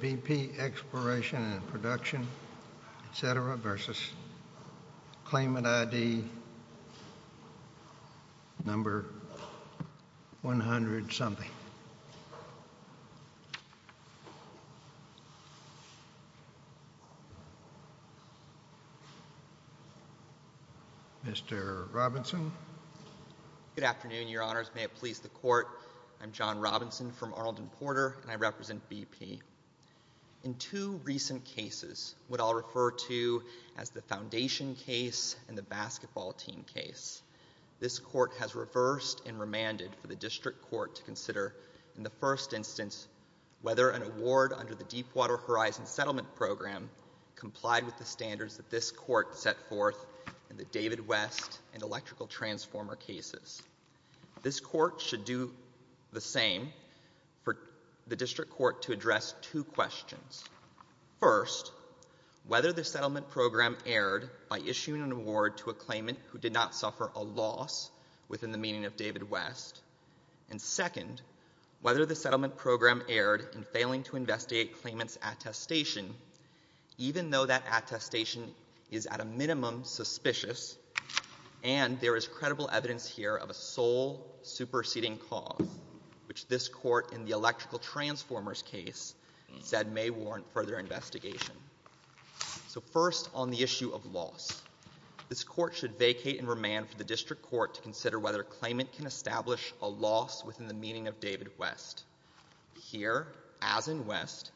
B.P. Exploration & Production, Inc. v. Claimant ID 100-something Mr. Robinson. Good afternoon, Your Honors. May it please the Court, I'm John Robinson from Arnold and Porter, and I represent B.P. In two recent cases, what I'll refer to as the Foundation case and the Basketball Team case, this Court has reversed and remanded for the District Court to consider, in the first instance, whether an award under the Deepwater Horizon Settlement Program complied with the standards that this Court set forth in the David West and Electrical Transformer cases. This Court should do the same for the District Court to address two questions. First, whether the Settlement Program erred by issuing an award to a claimant who did not suffer a loss within the meaning of David West, and second, whether the Settlement Program erred in failing to investigate a claimant's attestation even though that attestation is at a minimum suspicious and there is credible evidence here of a sole superseding cause, which this Court in the Electrical Transformer case said may warrant further investigation. So first, on the issue of loss, this Court should vacate and remand for the District Court to consider whether a claimant can establish a loss within the meaning of David West. Here, as in West,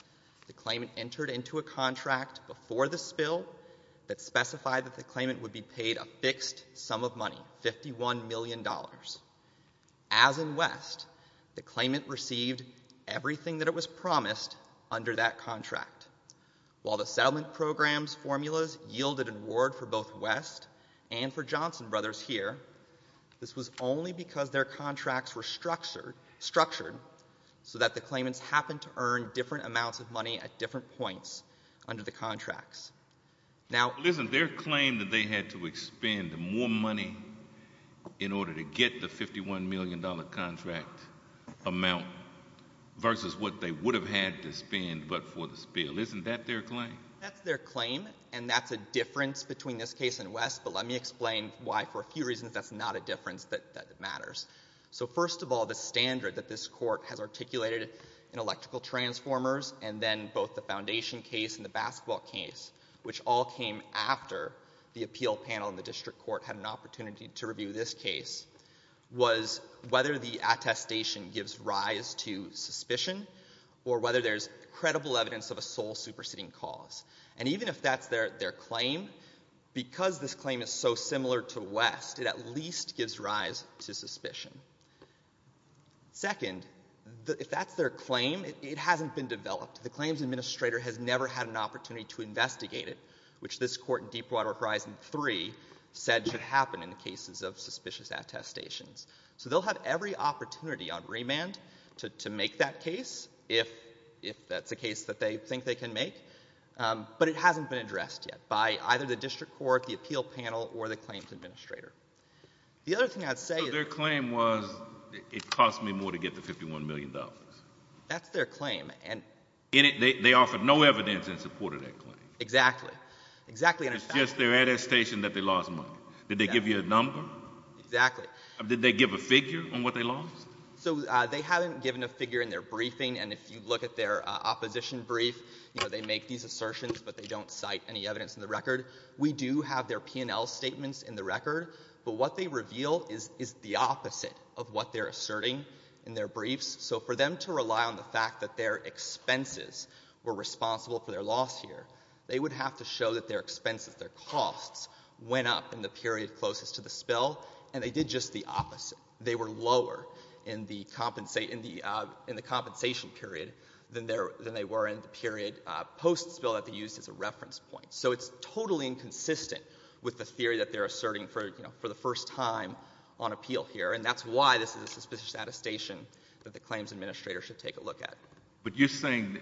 the claimant entered into a contract before the spill that specified that the claimant would be paid a fixed sum of money, $51 million. As in West, the claimant received everything that it was promised under that contract. While the Settlement Program's formulas yielded an award for both West and for Johnson Brothers here, this was only because their contracts were structured so that the claimants happened to earn different amounts of money at different points under the contracts. Now, listen, their claim is that they were able to get the $51 million contract amount versus what they would have had to spend but for the spill. Isn't that their claim? That's their claim and that's a difference between this case and West, but let me explain why, for a few reasons, that's not a difference that matters. So first of all, the standard that this Court has articulated in Electrical Transformers and then both the Foundation case and the basketball case, which all came after the appeal panel in the District Court had an opportunity to review this case was whether the attestation gives rise to suspicion or whether there's credible evidence of a sole superseding cause. And even if that's their claim, because this claim is so similar to West, it at least gives rise to suspicion. Second, if that's their claim, it hasn't been developed. The claims administrator has never had an opportunity to investigate it, which this Court in Deepwater Horizon 3 said should happen in the cases of suspicious attestations. So they'll have every opportunity on remand to make that case if that's a case that they think they can make, but it hasn't been addressed yet by either the District Court, the appeal panel, or the claims administrator. The other thing I'd say is... So their claim was, it cost me more to get the $51 million? That's their claim. And they offered no evidence in support of that claim? Exactly. Exactly. It's just their attestation that they lost money. Did they give you a number? Exactly. Did they give a figure on what they lost? So they haven't given a figure in their briefing, and if you look at their opposition brief, they make these assertions, but they don't cite any evidence in the record. We do have their P&L statements in the record, but what they reveal is the opposite of what they're asserting in their briefs. So for them to rely on the fact that their expenses were they would have to show that their expenses, their costs, went up in the period closest to the spill, and they did just the opposite. They were lower in the compensation period than they were in the period post-spill that they used as a reference point. So it's totally inconsistent with the theory that they're asserting for the first time on appeal here, and that's why this is a suspicious attestation that the claims administrator should take a look at. But you're saying that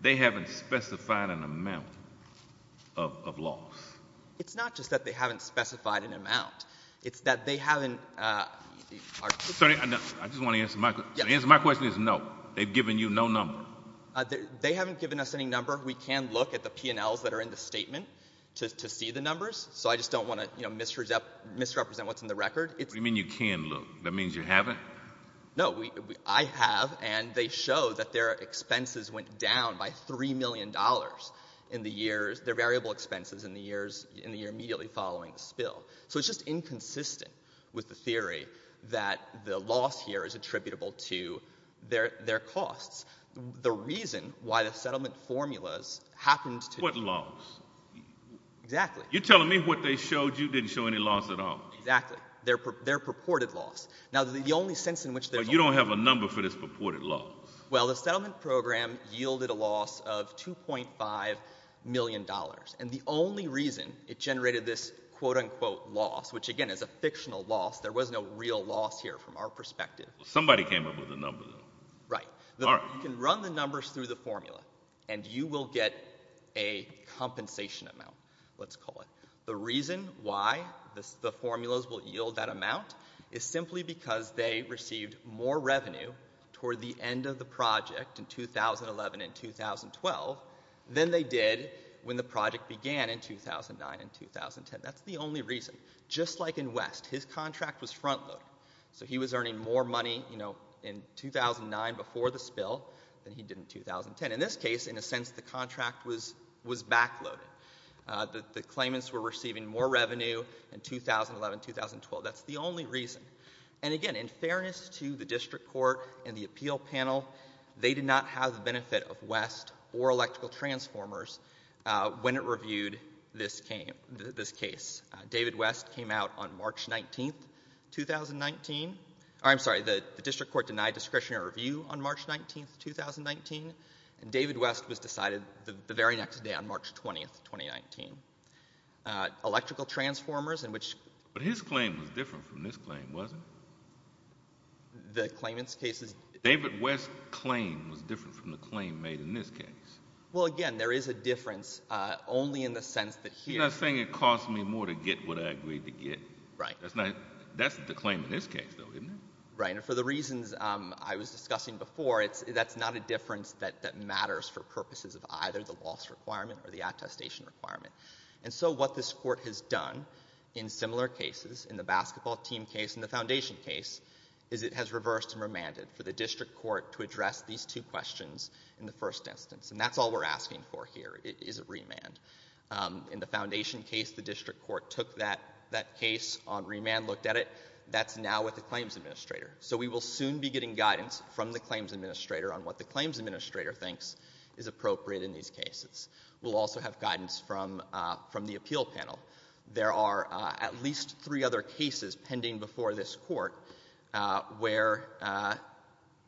they haven't specified an amount of loss? It's not just that they haven't specified an amount. It's that they haven't... Sir, I just want to answer my question. My question is no. They've given you no number. They haven't given us any number. We can look at the P&Ls that are in the statement to see the numbers, so I just don't want to misrepresent what's in the record. What do you mean you can look? That means you haven't? No. I have, and they show that their expenses went down by $3 million in the years... their variable expenses in the year immediately following the spill. So it's just inconsistent with the theory that the loss here is attributable to their costs. The reason why the settlement formulas happened to... What loss? Exactly. You're telling me what they showed you didn't show any loss at all? Exactly. Their purported loss. Now the only sense in which... But you don't have a number for this purported loss. Well, the settlement program yielded a loss of $2.5 million, and the only reason it generated this quote-unquote loss, which again is a fictional loss. There was no real loss here from our perspective. Somebody came up with a number, though. Right. You can run the numbers through the formula, and you will get a compensation amount, let's call it. The reason why the formulas will yield that amount is simply because they received more revenue toward the end of the project in 2011 and 2012 than they did when the project began in 2009 and 2010. That's the only reason. Just like in West, his contract was front-loaded. So he was earning more money in 2009 before the spill than he did in 2010. And in this case, in a sense, the contract was back-loaded. The claimants were receiving more revenue in 2011 and 2012. That's the only reason. And again, in fairness to the district court and the appeal panel, they did not have the benefit of West or Electrical Transformers when it reviewed this case. David West came out on March 19, 2019. I'm sorry, the district court denied discretion to review on March 19, 2019. And David West was decided the very next day on March 20, 2019. Electrical Transformers, in which — But his claim was different from this claim, wasn't it? The claimant's case is — David West's claim was different from the claim made in this case. Well, again, there is a difference, only in the sense that here — You're not saying it cost me more to get what I agreed to get. Right. That's not — that's the claim in this case, though, isn't it? Right. And for the reasons I was discussing before, it's — that's not a difference that matters for purposes of either the loss requirement or the attestation requirement. And so what this court has done in similar cases, in the basketball team case and the foundation case, is it has reversed and remanded for the district court to address these two questions in the first instance. And that's all we're asking for here is a remand. In the foundation case, the district court took that case on remand, looked at it. That's done now with the claims administrator. So we will soon be getting guidance from the claims administrator on what the claims administrator thinks is appropriate in these cases. We'll also have guidance from — from the appeal panel. There are at least three other cases pending before this court where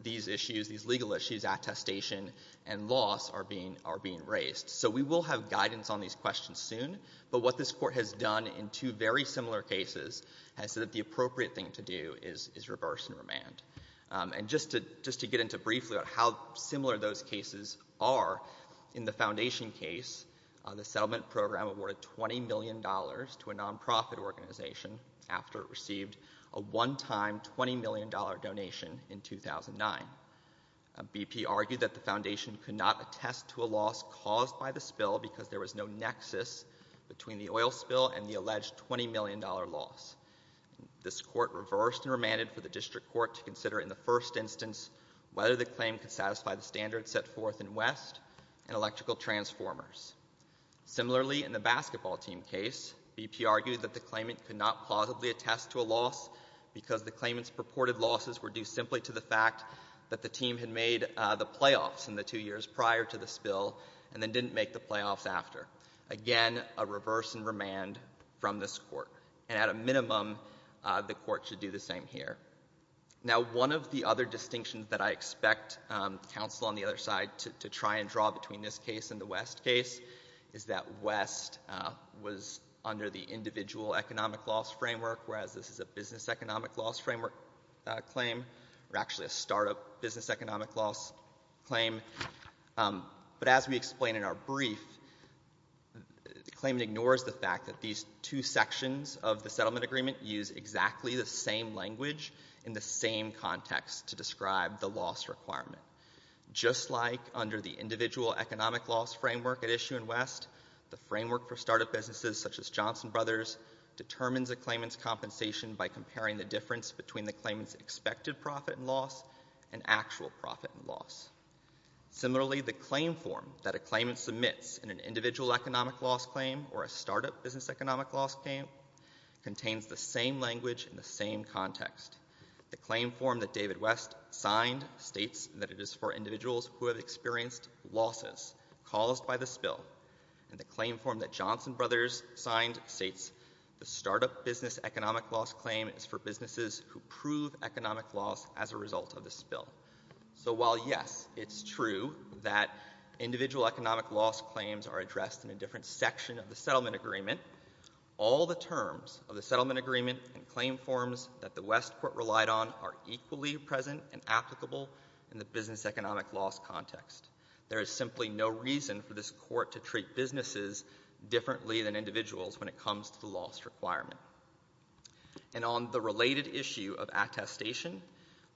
these issues, these legal issues, attestation and loss are being — are being raised. So we will have guidance on these questions soon. But what this court has done in two very similar cases has said that the appropriate thing to do is — is reverse and remand. And just to — just to get into briefly about how similar those cases are, in the foundation case, the settlement program awarded $20 million to a nonprofit organization after it received a one-time $20 million donation in 2009. BP argued that the foundation could not attest to a loss caused by the spill because there was no nexus between the oil spill and the $20 million loss. This court reversed and remanded for the district court to consider in the first instance whether the claim could satisfy the standards set forth in West and electrical transformers. Similarly, in the basketball team case, BP argued that the claimant could not plausibly attest to a loss because the claimant's purported losses were due simply to the fact that the team had made the playoffs in the two years prior to the spill and then didn't make the court. And at a minimum, uh, the court should do the same here. Now one of the other distinctions that I expect, um, counsel on the other side to — to try and draw between this case and the West case is that West, uh, was under the individual economic loss framework, whereas this is a business economic loss framework, uh, claim, or actually a startup business economic loss claim. Um, but as we explain in our brief, uh, the claimant ignores the fact that these two sections of the settlement agreement use exactly the same language in the same context to describe the loss requirement. Just like under the individual economic loss framework at issue in West, the framework for startup businesses such as Johnson Brothers determines a claimant's compensation by comparing the difference between the claimant's expected profit and loss and actual profit and loss. Similarly, the claim form that a claimant submits in an individual economic loss claim or a startup business economic loss claim contains the same language in the same context. The claim form that David West signed states that it is for individuals who have experienced losses caused by the spill. And the claim form that Johnson Brothers signed states the startup business economic loss claim is for businesses who prove economic loss as a result of the spill. So while yes, it's true that individual economic loss claims are addressed in a different section of the settlement agreement, all the terms of the settlement agreement and claim forms that the West court relied on are equally present and applicable in the business economic loss context. There is simply no reason for this court to treat businesses differently than individuals when it comes to the loss requirement. And on the related issue of attestation,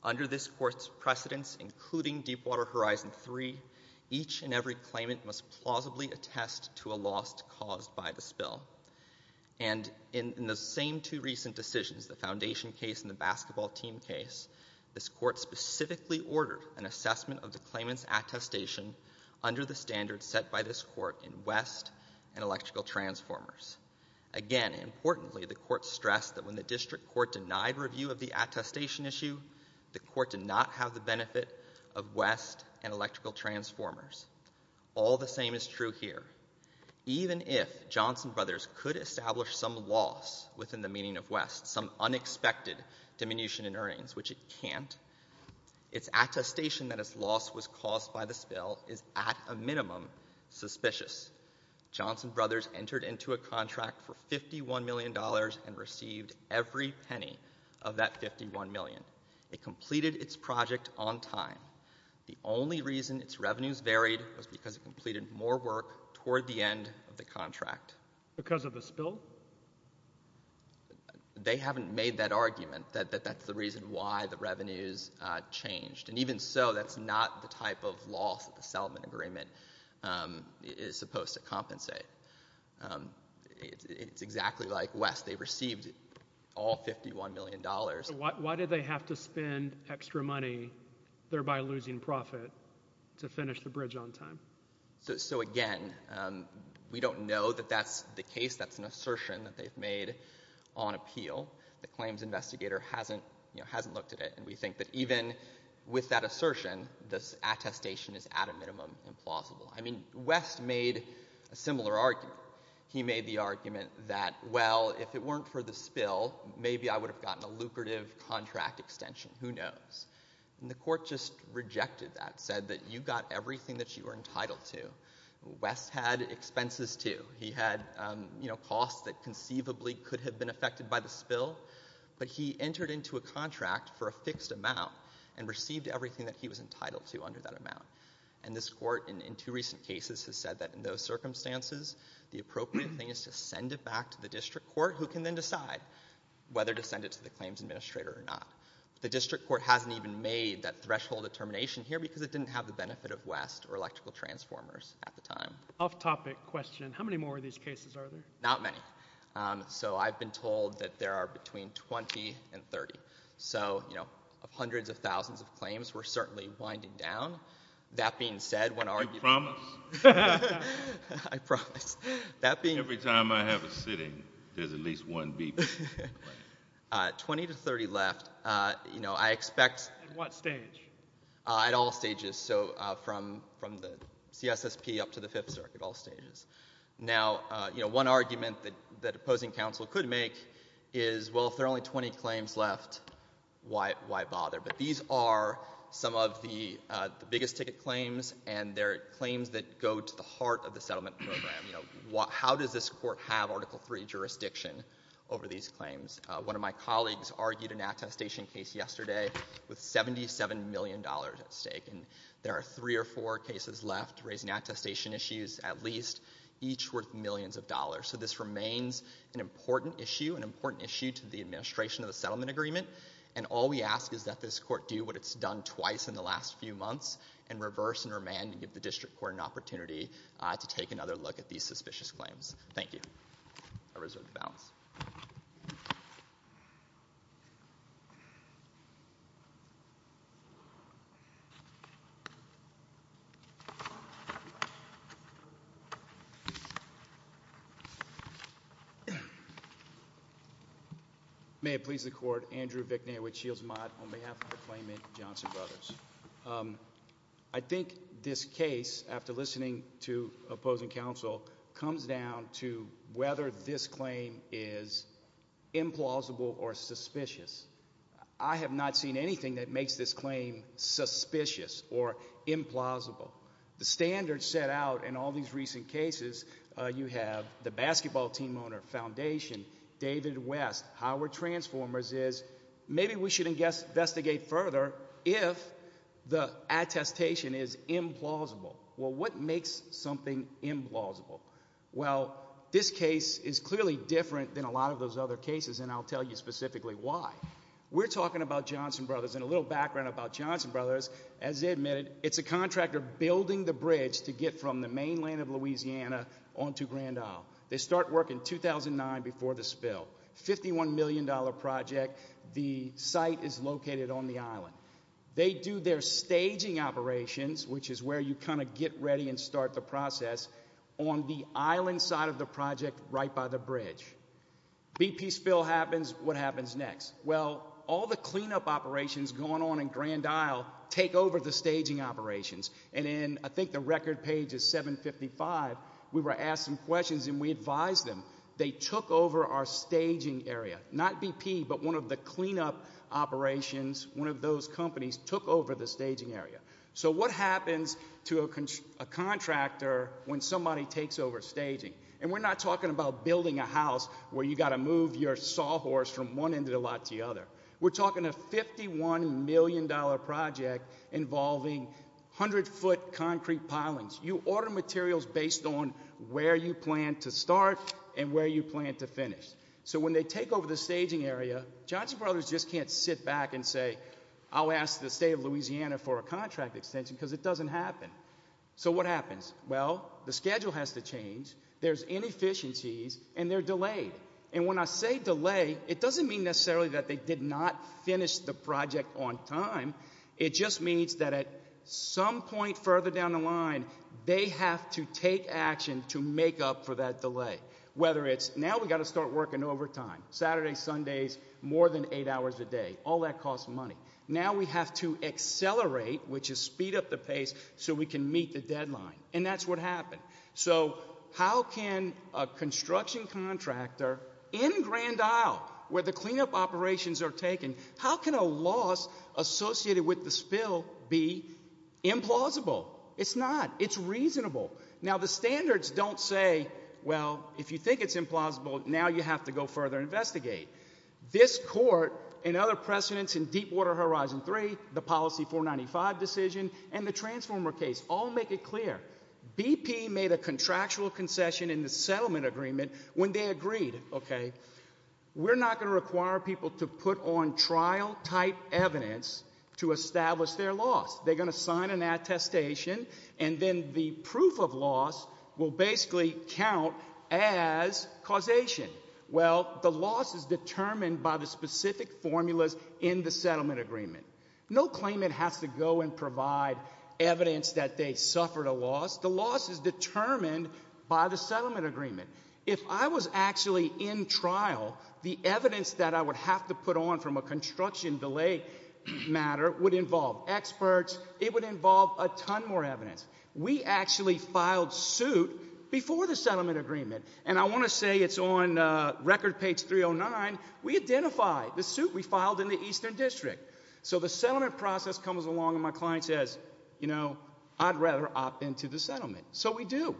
under this court's precedence, including Deepwater Horizon 3, each and every claimant must plausibly attest to a loss caused by the spill. And in the same two recent decisions, the foundation case and the basketball team case, this court specifically ordered an assessment of the claimant's attestation under the standards set by this court in West and Electrical Transformers. Again, importantly, the court stressed that when the district court denied review of the attestation issue, the court did not have the benefit of West and Electrical Transformers. All the same is true here. Even if Johnson Brothers could establish some loss within the meaning of West, some unexpected diminution in earnings, which it can't, its attestation that its loss was caused by the spill is at a minimum suspicious. Johnson Brothers entered into a contract for $51 million and received every penny of that $51 million. It completed its project on time. The only reason its revenues varied was because it completed more work toward the end of the contract. Because of the spill? They haven't made that argument, that that's the reason why the revenues changed. And even so, that's not the type of loss that the settlement agreement is supposed to compensate. It's all $51 million. Why did they have to spend extra money, thereby losing profit, to finish the bridge on time? Again, we don't know that that's the case. That's an assertion that they've made on appeal. The claims investigator hasn't looked at it. And we think that even with that assertion, this attestation is at a minimum implausible. I mean, West made a similar argument. He made the argument that, well, if it weren't for the spill, maybe I would have gotten a lucrative contract extension. Who knows? And the court just rejected that, said that you got everything that you were entitled to. West had expenses, too. He had, you know, costs that conceivably could have been affected by the spill. But he entered into a contract for a fixed amount and received everything that he was entitled to under that amount. And this court, in two recent cases, has said that in those circumstances, the appropriate thing is to send it back to the district court, who can then decide whether to send it to the claims administrator or not. The district court hasn't even made that threshold of termination here because it didn't have the benefit of West or electrical transformers at the time. Off-topic question. How many more of these cases are there? Not many. So I've been told that there are between 20 and 30. So, you know, of hundreds of thousands of claims, we're certainly winding down. That being said, when our people leave, I promise, every time I have a sitting, there's at least one beep. 20 to 30 left. You know, I expect... At what stage? At all stages. So from the CSSP up to the Fifth Circuit, all stages. Now, you know, one argument that opposing counsel could make is, well, if there are only 20 claims left, why bother? But these are some of the biggest ticket claims, and they're claims that go to the heart of the settlement program. You know, how does this court have Article III jurisdiction over these claims? One of my colleagues argued an attestation case yesterday with $77 million at stake. And there are three or four cases left, raising attestation issues at least, each worth millions of dollars. So this remains an important issue, an important issue to the administration of the settlement agreement. And all we ask is that this court do what it's done twice in the last few months, and reverse and remand and give the district court an opportunity to take another look at these suspicious claims. Thank you. I reserve the balance. May it please the Court. Andrew Vickney with Shields Mott on behalf of the Clayman Johnson Brothers. I think this case, after listening to opposing counsel, comes down to whether this claim is implausible or suspicious. I have not seen anything that makes this claim suspicious or implausible. The standards set out in all these recent cases, you have the Howard Transformers, is maybe we should investigate further if the attestation is implausible. Well, what makes something implausible? Well, this case is clearly different than a lot of those other cases, and I'll tell you specifically why. We're talking about Johnson Brothers, and a little background about Johnson Brothers. As they admitted, it's a contractor building the bridge to get from the mainland of Louisiana onto Grand Isle. They start work in 2009 before the spill. $51 million project. The site is located on the island. They do their staging operations, which is where you kind of get ready and start the process, on the island side of the project right by the bridge. BP spill happens. What happens next? Well, all the cleanup operations going on in Grand Isle take over the staging operations, and in, I think the record page is 755, we were asked some questions and we advised them. They took over our staging area. Not BP, but one of the cleanup operations, one of those companies took over the staging area. So what happens to a contractor when somebody takes over staging? And we're not talking about building a house where you've got to move your sawhorse from one end of the lot to the other. We're talking a $51 million project involving 100-foot concrete pilings. You order materials based on where you plan to start and where you plan to finish. So when they take over the staging area, Johnson Brothers just can't sit back and say, I'll ask the state of Louisiana for a contract extension because it doesn't happen. So what happens? Well, the schedule has to change. There's inefficiencies, and they're delayed. And when I say delay, it doesn't mean necessarily that they did not finish the project on time. It just means that at some point further down the line, they have to take action to make up for that delay. Whether it's, now we've got to start working overtime, Saturdays, Sundays, more than eight hours a day. All that costs money. Now we have to accelerate, which is speed up the pace, so we can meet the deadline. And that's what happened. So how can a construction contractor in Grand Isle, where the cleanup operations are taken, how can a loss associated with the spill be implausible? It's not. It's reasonable. Now the standards don't say, well, if you think it's implausible, now you have to go further and investigate. This court and other precedents in Deepwater Horizon 3, the Policy 495 decision, and the transformer case all make it clear. BP made a contractual concession in the settlement agreement when they agreed, okay, we're not going to require people to put on trial type evidence to establish their loss. They're going to sign an attestation, and then the proof of loss will basically count as causation. Well, the loss is determined by the specific formulas in the settlement agreement. No claimant has to go and provide evidence that they suffered a loss. The loss is determined by the settlement agreement. If I was actually in trial, the evidence that I would have to put on from a construction delay matter would involve experts. It would involve a ton more evidence. We actually filed suit before the settlement agreement, and I want to say it's on record page 309. We identified the suit we filed in the Eastern District. So the settlement process comes along and my client says, you know, I'd rather opt into the settlement. So we do.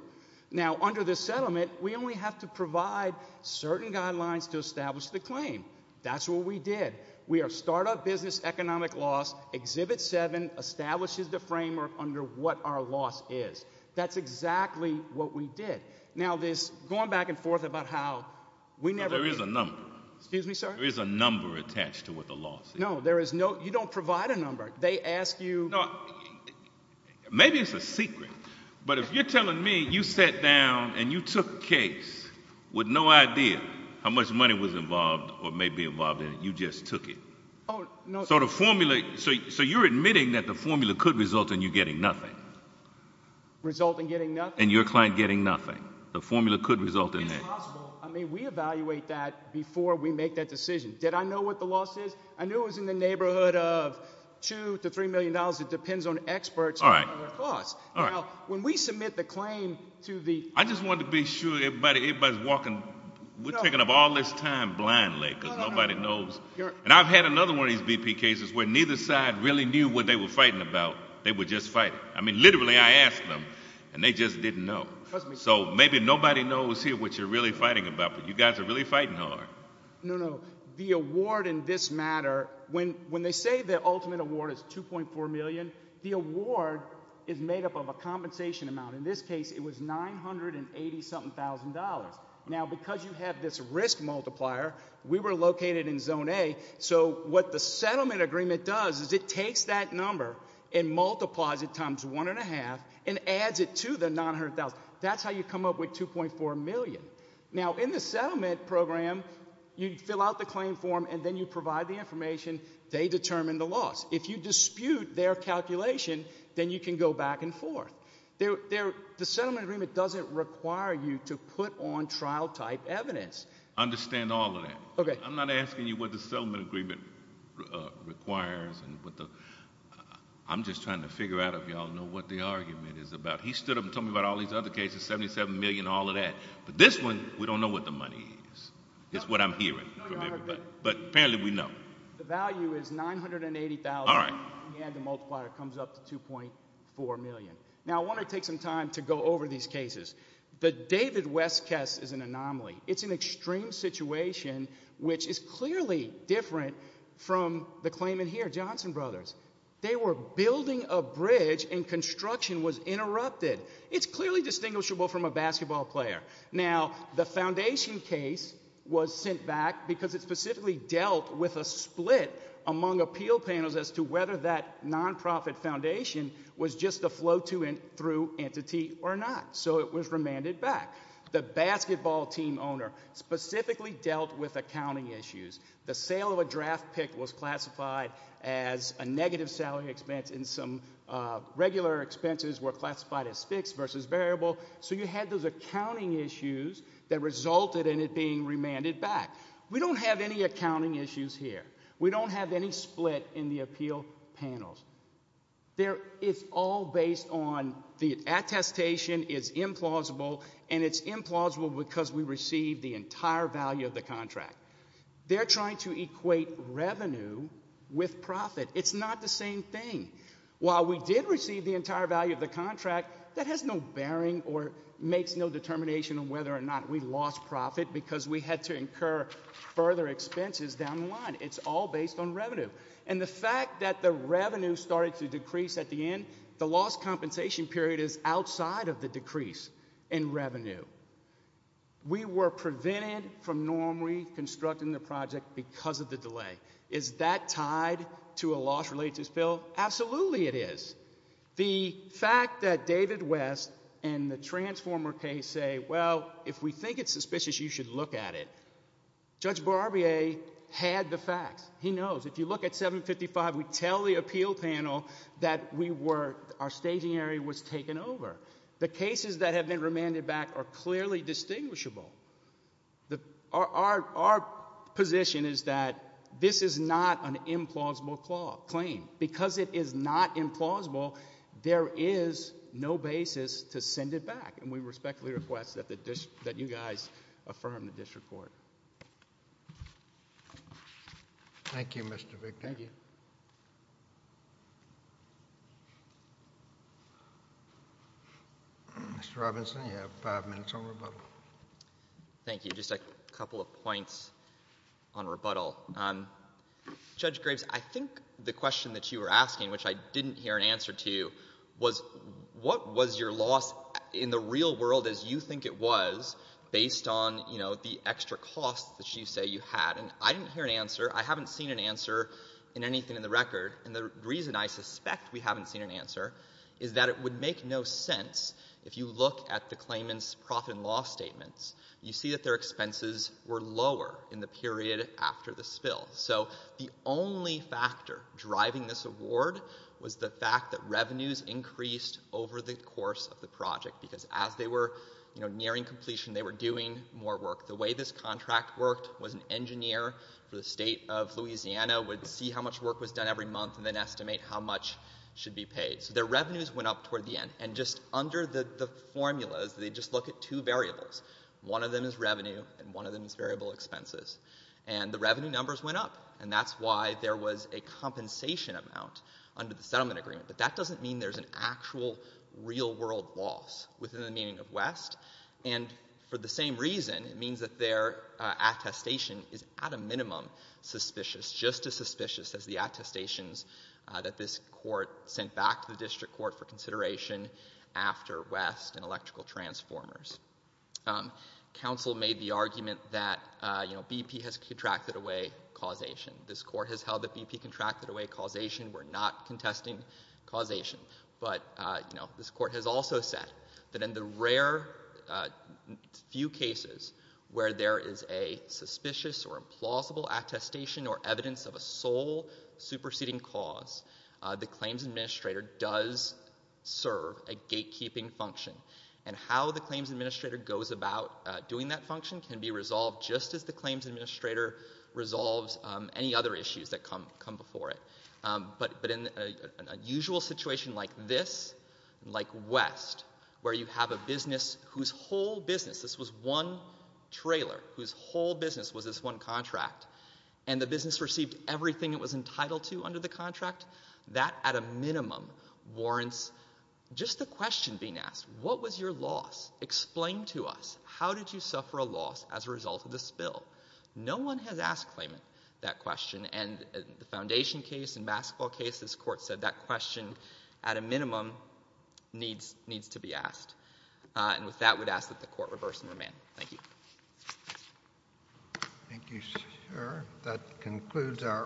Now under this settlement, we only have to provide certain guidelines to establish the claim. That's what we did. We are start-up business economic loss. Exhibit seven establishes the framework under what our loss is. That's exactly what we did. Now this going back and forth about how we never... There is a number. Excuse me, sir? There is a number attached to what the loss is. No, there is no, you don't provide a number. They ask you... You know, maybe it's a secret, but if you're telling me you sat down and you took a case with no idea how much money was involved or may be involved in it, you just took it. Oh, no. So the formula, so you're admitting that the formula could result in you getting nothing. Result in getting nothing? In your client getting nothing. The formula could result in that. It's possible. I mean, we evaluate that before we make that decision. Did I know what the number is? It's in the neighborhood of two to three million dollars. It depends on experts and their thoughts. Now, when we submit the claim to the... I just wanted to be sure everybody's walking... We're taking up all this time blindly because nobody knows. And I've had another one of these BP cases where neither side really knew what they were fighting about. They were just fighting. I mean, literally I asked them and they just didn't know. So maybe nobody knows here what you're really fighting about, but you guys are really fighting hard. No, no, no. The award in this matter, when they say the ultimate award is 2.4 million, the award is made up of a compensation amount. In this case, it was 980-something thousand dollars. Now, because you have this risk multiplier, we were located in zone A, so what the settlement agreement does is it takes that number and multiplies it times one and a half and adds it to the 900,000. That's how you come up with 2.4 million. Now, in the settlement program, you fill out the claim form and then you provide the information. They determine the loss. If you dispute their calculation, then you can go back and forth. The settlement agreement doesn't require you to put on trial-type evidence. Understand all of that. I'm not asking you what the settlement agreement requires. I'm just trying to figure out if y'all know what the argument is about. He stood up and told me about all these other cases, 77 million, all of that. But this one, we don't know what the money is. It's what I'm hearing from everybody. But apparently we know. The value is 980,000 and the multiplier comes up to 2.4 million. Now, I want to take some time to go over these cases. The David West case is an anomaly. It's an extreme situation which is clearly different from the claimant here, Johnson Brothers. They were building a bridge and construction was interrupted. It's clearly distinguishable from a basketball player. Now, the foundation case was sent back because it specifically dealt with a split among appeal panels as to whether that nonprofit foundation was just a flow-through entity or not. So it was remanded back. The basketball team owner specifically dealt with accounting issues. The sale of a draft pick was classified as a negative salary expense and some regular expenses were classified as fixed versus variable. So you had those accounting issues that resulted in it being remanded back. We don't have any accounting issues here. We don't have any split in the appeal panels. It's all based on the attestation is implausible and it's implausible because we received the entire value of the contract. They're trying to equate revenue with profit. It's not the same thing. While we did receive the entire value of the contract, that has no bearing or makes no determination on whether or not we lost profit because we had to incur further expenses down the line. It's all based on revenue. And the fact that the revenue started to decrease at the end, the lost compensation period is outside of the decrease in revenue. We were prevented from normally constructing the project because of the delay. Is that tied to a loss related to this bill? Absolutely it is. The fact that David West and the transformer case say, well, if we think it's suspicious, you should look at it. Judge Barbier had the facts. He knows. If you look at 755, we tell the appeal panel that our staging area was taken over. The cases that have been remanded back are clearly distinguishable. Our position is that this is not an implausible claim. Because it is not implausible, there is no basis to send it back. And we respectfully request that you guys affirm this report. Thank you, Mr. Victor. Thank you. Mr. Robinson, you have five minutes on rebuttal. Thank you. Just a couple of points on rebuttal. Judge Graves, I think the question that you were asking, which I didn't hear an answer to, was what was your loss in the real world as you think it was, based on the extra costs that you say you had. And I didn't hear an answer. I haven't seen an answer in anything in the record. And the reason I suspect we haven't seen an answer is that it would make no sense if you look at the claimant's profit and loss statements. You see that their expenses were lower in the period after the spill. So the only factor driving this award was the fact that revenues increased over the course of the project. Because as they were nearing completion, they were doing more work. The way this contract worked was an engineer for the state of Louisiana would see how much work was done every month and then estimate how much should be paid. So their revenues went up toward the end. And just under the formulas, they just look at two variables. One of them is revenue and one of them is variable expenses. And the revenue numbers went up. And that's why there was a compensation amount under the settlement agreement. But that doesn't mean there's an actual real world loss within the meaning of West. And for the same reason, it means that their attestation is at a minimum suspicious, just as suspicious as the attestations that this court sent back to the district court for consideration after West and electrical transformers. Council made the argument that BP has contracted away causation. This court has held that BP contracted away causation. We're not contesting causation. But, you know, this court has also said that in the rare few cases where there is a suspicious or implausible attestation or evidence of a sole superseding cause, the claims administrator does serve a gatekeeping function. And how the claims administrator goes about doing that function can be resolved just as the claims administrator resolves any other issues that come before it. But in an unusual situation like this, like West, where you have a business whose whole business this was one trailer, whose whole business was this one contract, and the business received everything it was entitled to under the contract, that at a minimum warrants just the question being asked. What was your loss? Explain to us. How did you suffer a loss as a result of the spill? No one has asked Clayman that question. And the foundation case and basketball case, this court said that question at a minimum needs to be asked. And with that, we'd ask that the court reverse and remand. Thank you.